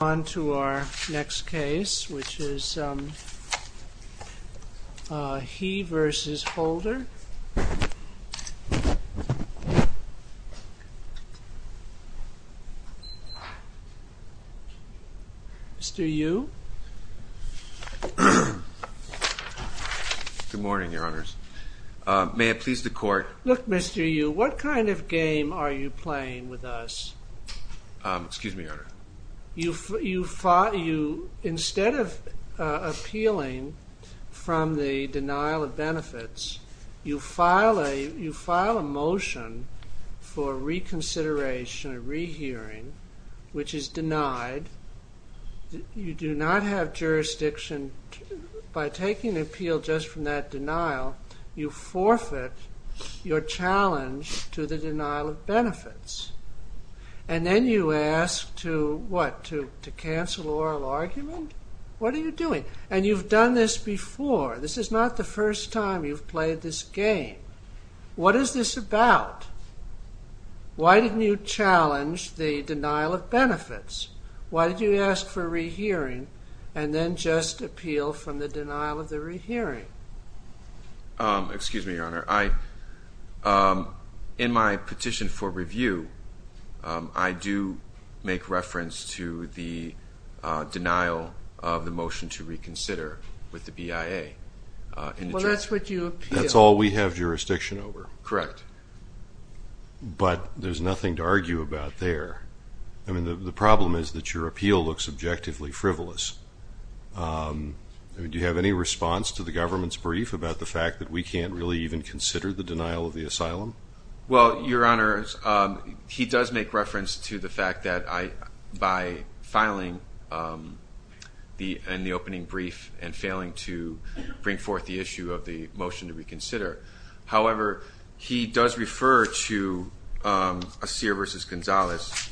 On to our next case, which is He v. Holder. Mr. Yu. Good morning, Your Honors. May it please the Court— Look, Mr. Yu, what kind of game are you playing with us? Excuse me, Your Honor. You—instead of appealing from the denial of benefits, you file a motion for reconsideration, a rehearing, which is denied. You do not have jurisdiction. By taking an appeal just from that denial, you forfeit your challenge to the denial of benefits. And then you ask to what? To cancel oral argument? What are you doing? And you've done this before. This is not the first time you've played this game. What is this about? Why didn't you challenge the denial of benefits? Why did you ask for a rehearing and then just appeal from the denial of the rehearing? Excuse me, Your Honor. In my petition for review, I do make reference to the denial of the motion to reconsider with the BIA. Well, that's what you appeal. That's all we have jurisdiction over. Correct. But there's nothing to argue about there. I mean, the problem is that your appeal looks objectively frivolous. I mean, do you have any response to the government's brief about the fact that we can't really even consider the denial of the asylum? Well, Your Honor, he does make reference to the fact that by filing the opening brief and failing to bring forth the issue of the motion to reconsider. However, he does refer to Assir v. Gonzalez,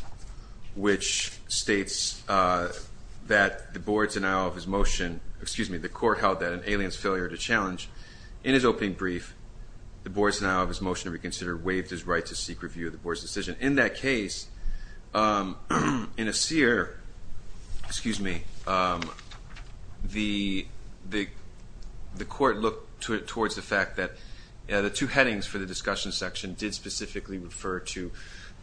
which states that the board's denial of his motion, excuse me, the court held that an alien's failure to challenge. In his opening brief, the board's denial of his motion to reconsider waived his right to seek review of the board's decision. In that case, in Assir, excuse me, the court looked towards the fact that the two headings for the discussion section did specifically refer to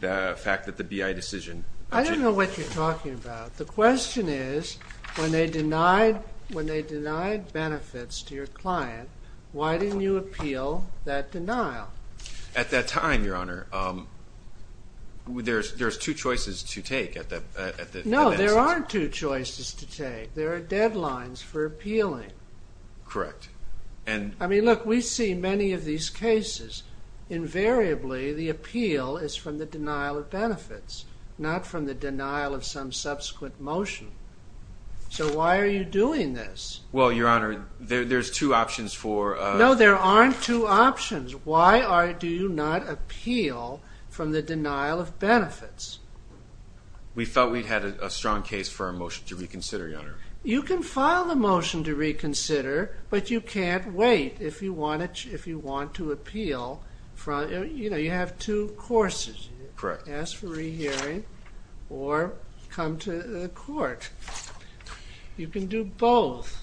the fact that the BIA decision. I don't know what you're talking about. The question is, when they denied benefits to your client, why didn't you appeal that denial? At that time, Your Honor, there's two choices to take. No, there aren't two choices to take. There are deadlines for appealing. Correct. I mean, look, we see many of these cases. Invariably, the appeal is from the denial of benefits, not from the denial of some subsequent motion. So why are you doing this? Well, Your Honor, there's two options for a... No, there aren't two options. Why do you not appeal from the denial of benefits? We felt we'd had a strong case for a motion to reconsider, Your Honor. You can file a motion to reconsider, but you can't wait if you want to appeal. You know, you have two courses. Correct. Ask for rehearing or come to the court. You can do both.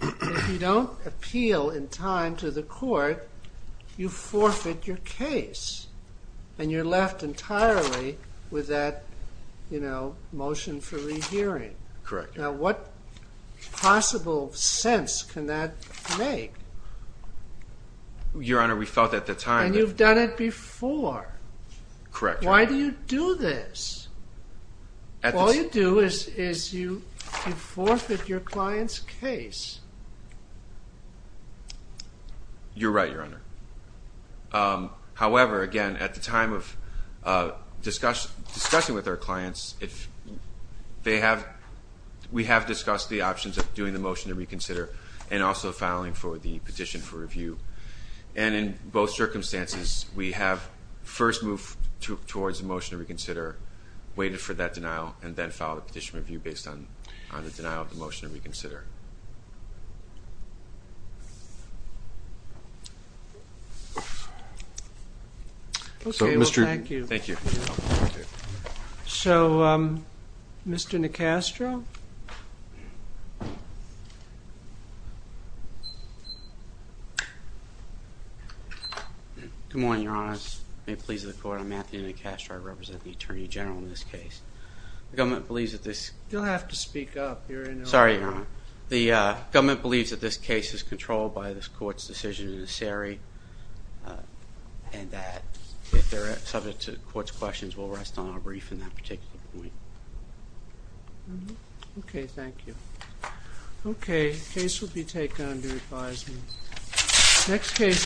If you don't appeal in time to the court, you forfeit your case, and you're left entirely with that, you know, motion for rehearing. Correct. Now, what possible sense can that make? Your Honor, we felt at the time that... And you've done it before. Correct, Your Honor. Why do you do this? All you do is you forfeit your client's case. You're right, Your Honor. However, again, at the time of discussing with our clients, we have discussed the options of doing the motion to reconsider and also filing for the petition for review. And in both circumstances, we have first moved towards a motion to reconsider, waited for that denial, and then filed a petition for review based on the denial of the motion to reconsider. Okay, well, thank you. Thank you. So, Mr. Nicastro? Good morning, Your Honor. May it please the court, I'm Anthony Nicastro. I represent the Attorney General in this case. The government believes that this... You'll have to speak up. Sorry, Your Honor. The government believes that this case is controlled by this court's decision and that if they're subject to court's questions, we'll rest on our brief in that particular point. Okay, thank you. Okay, case will be taken under advisement.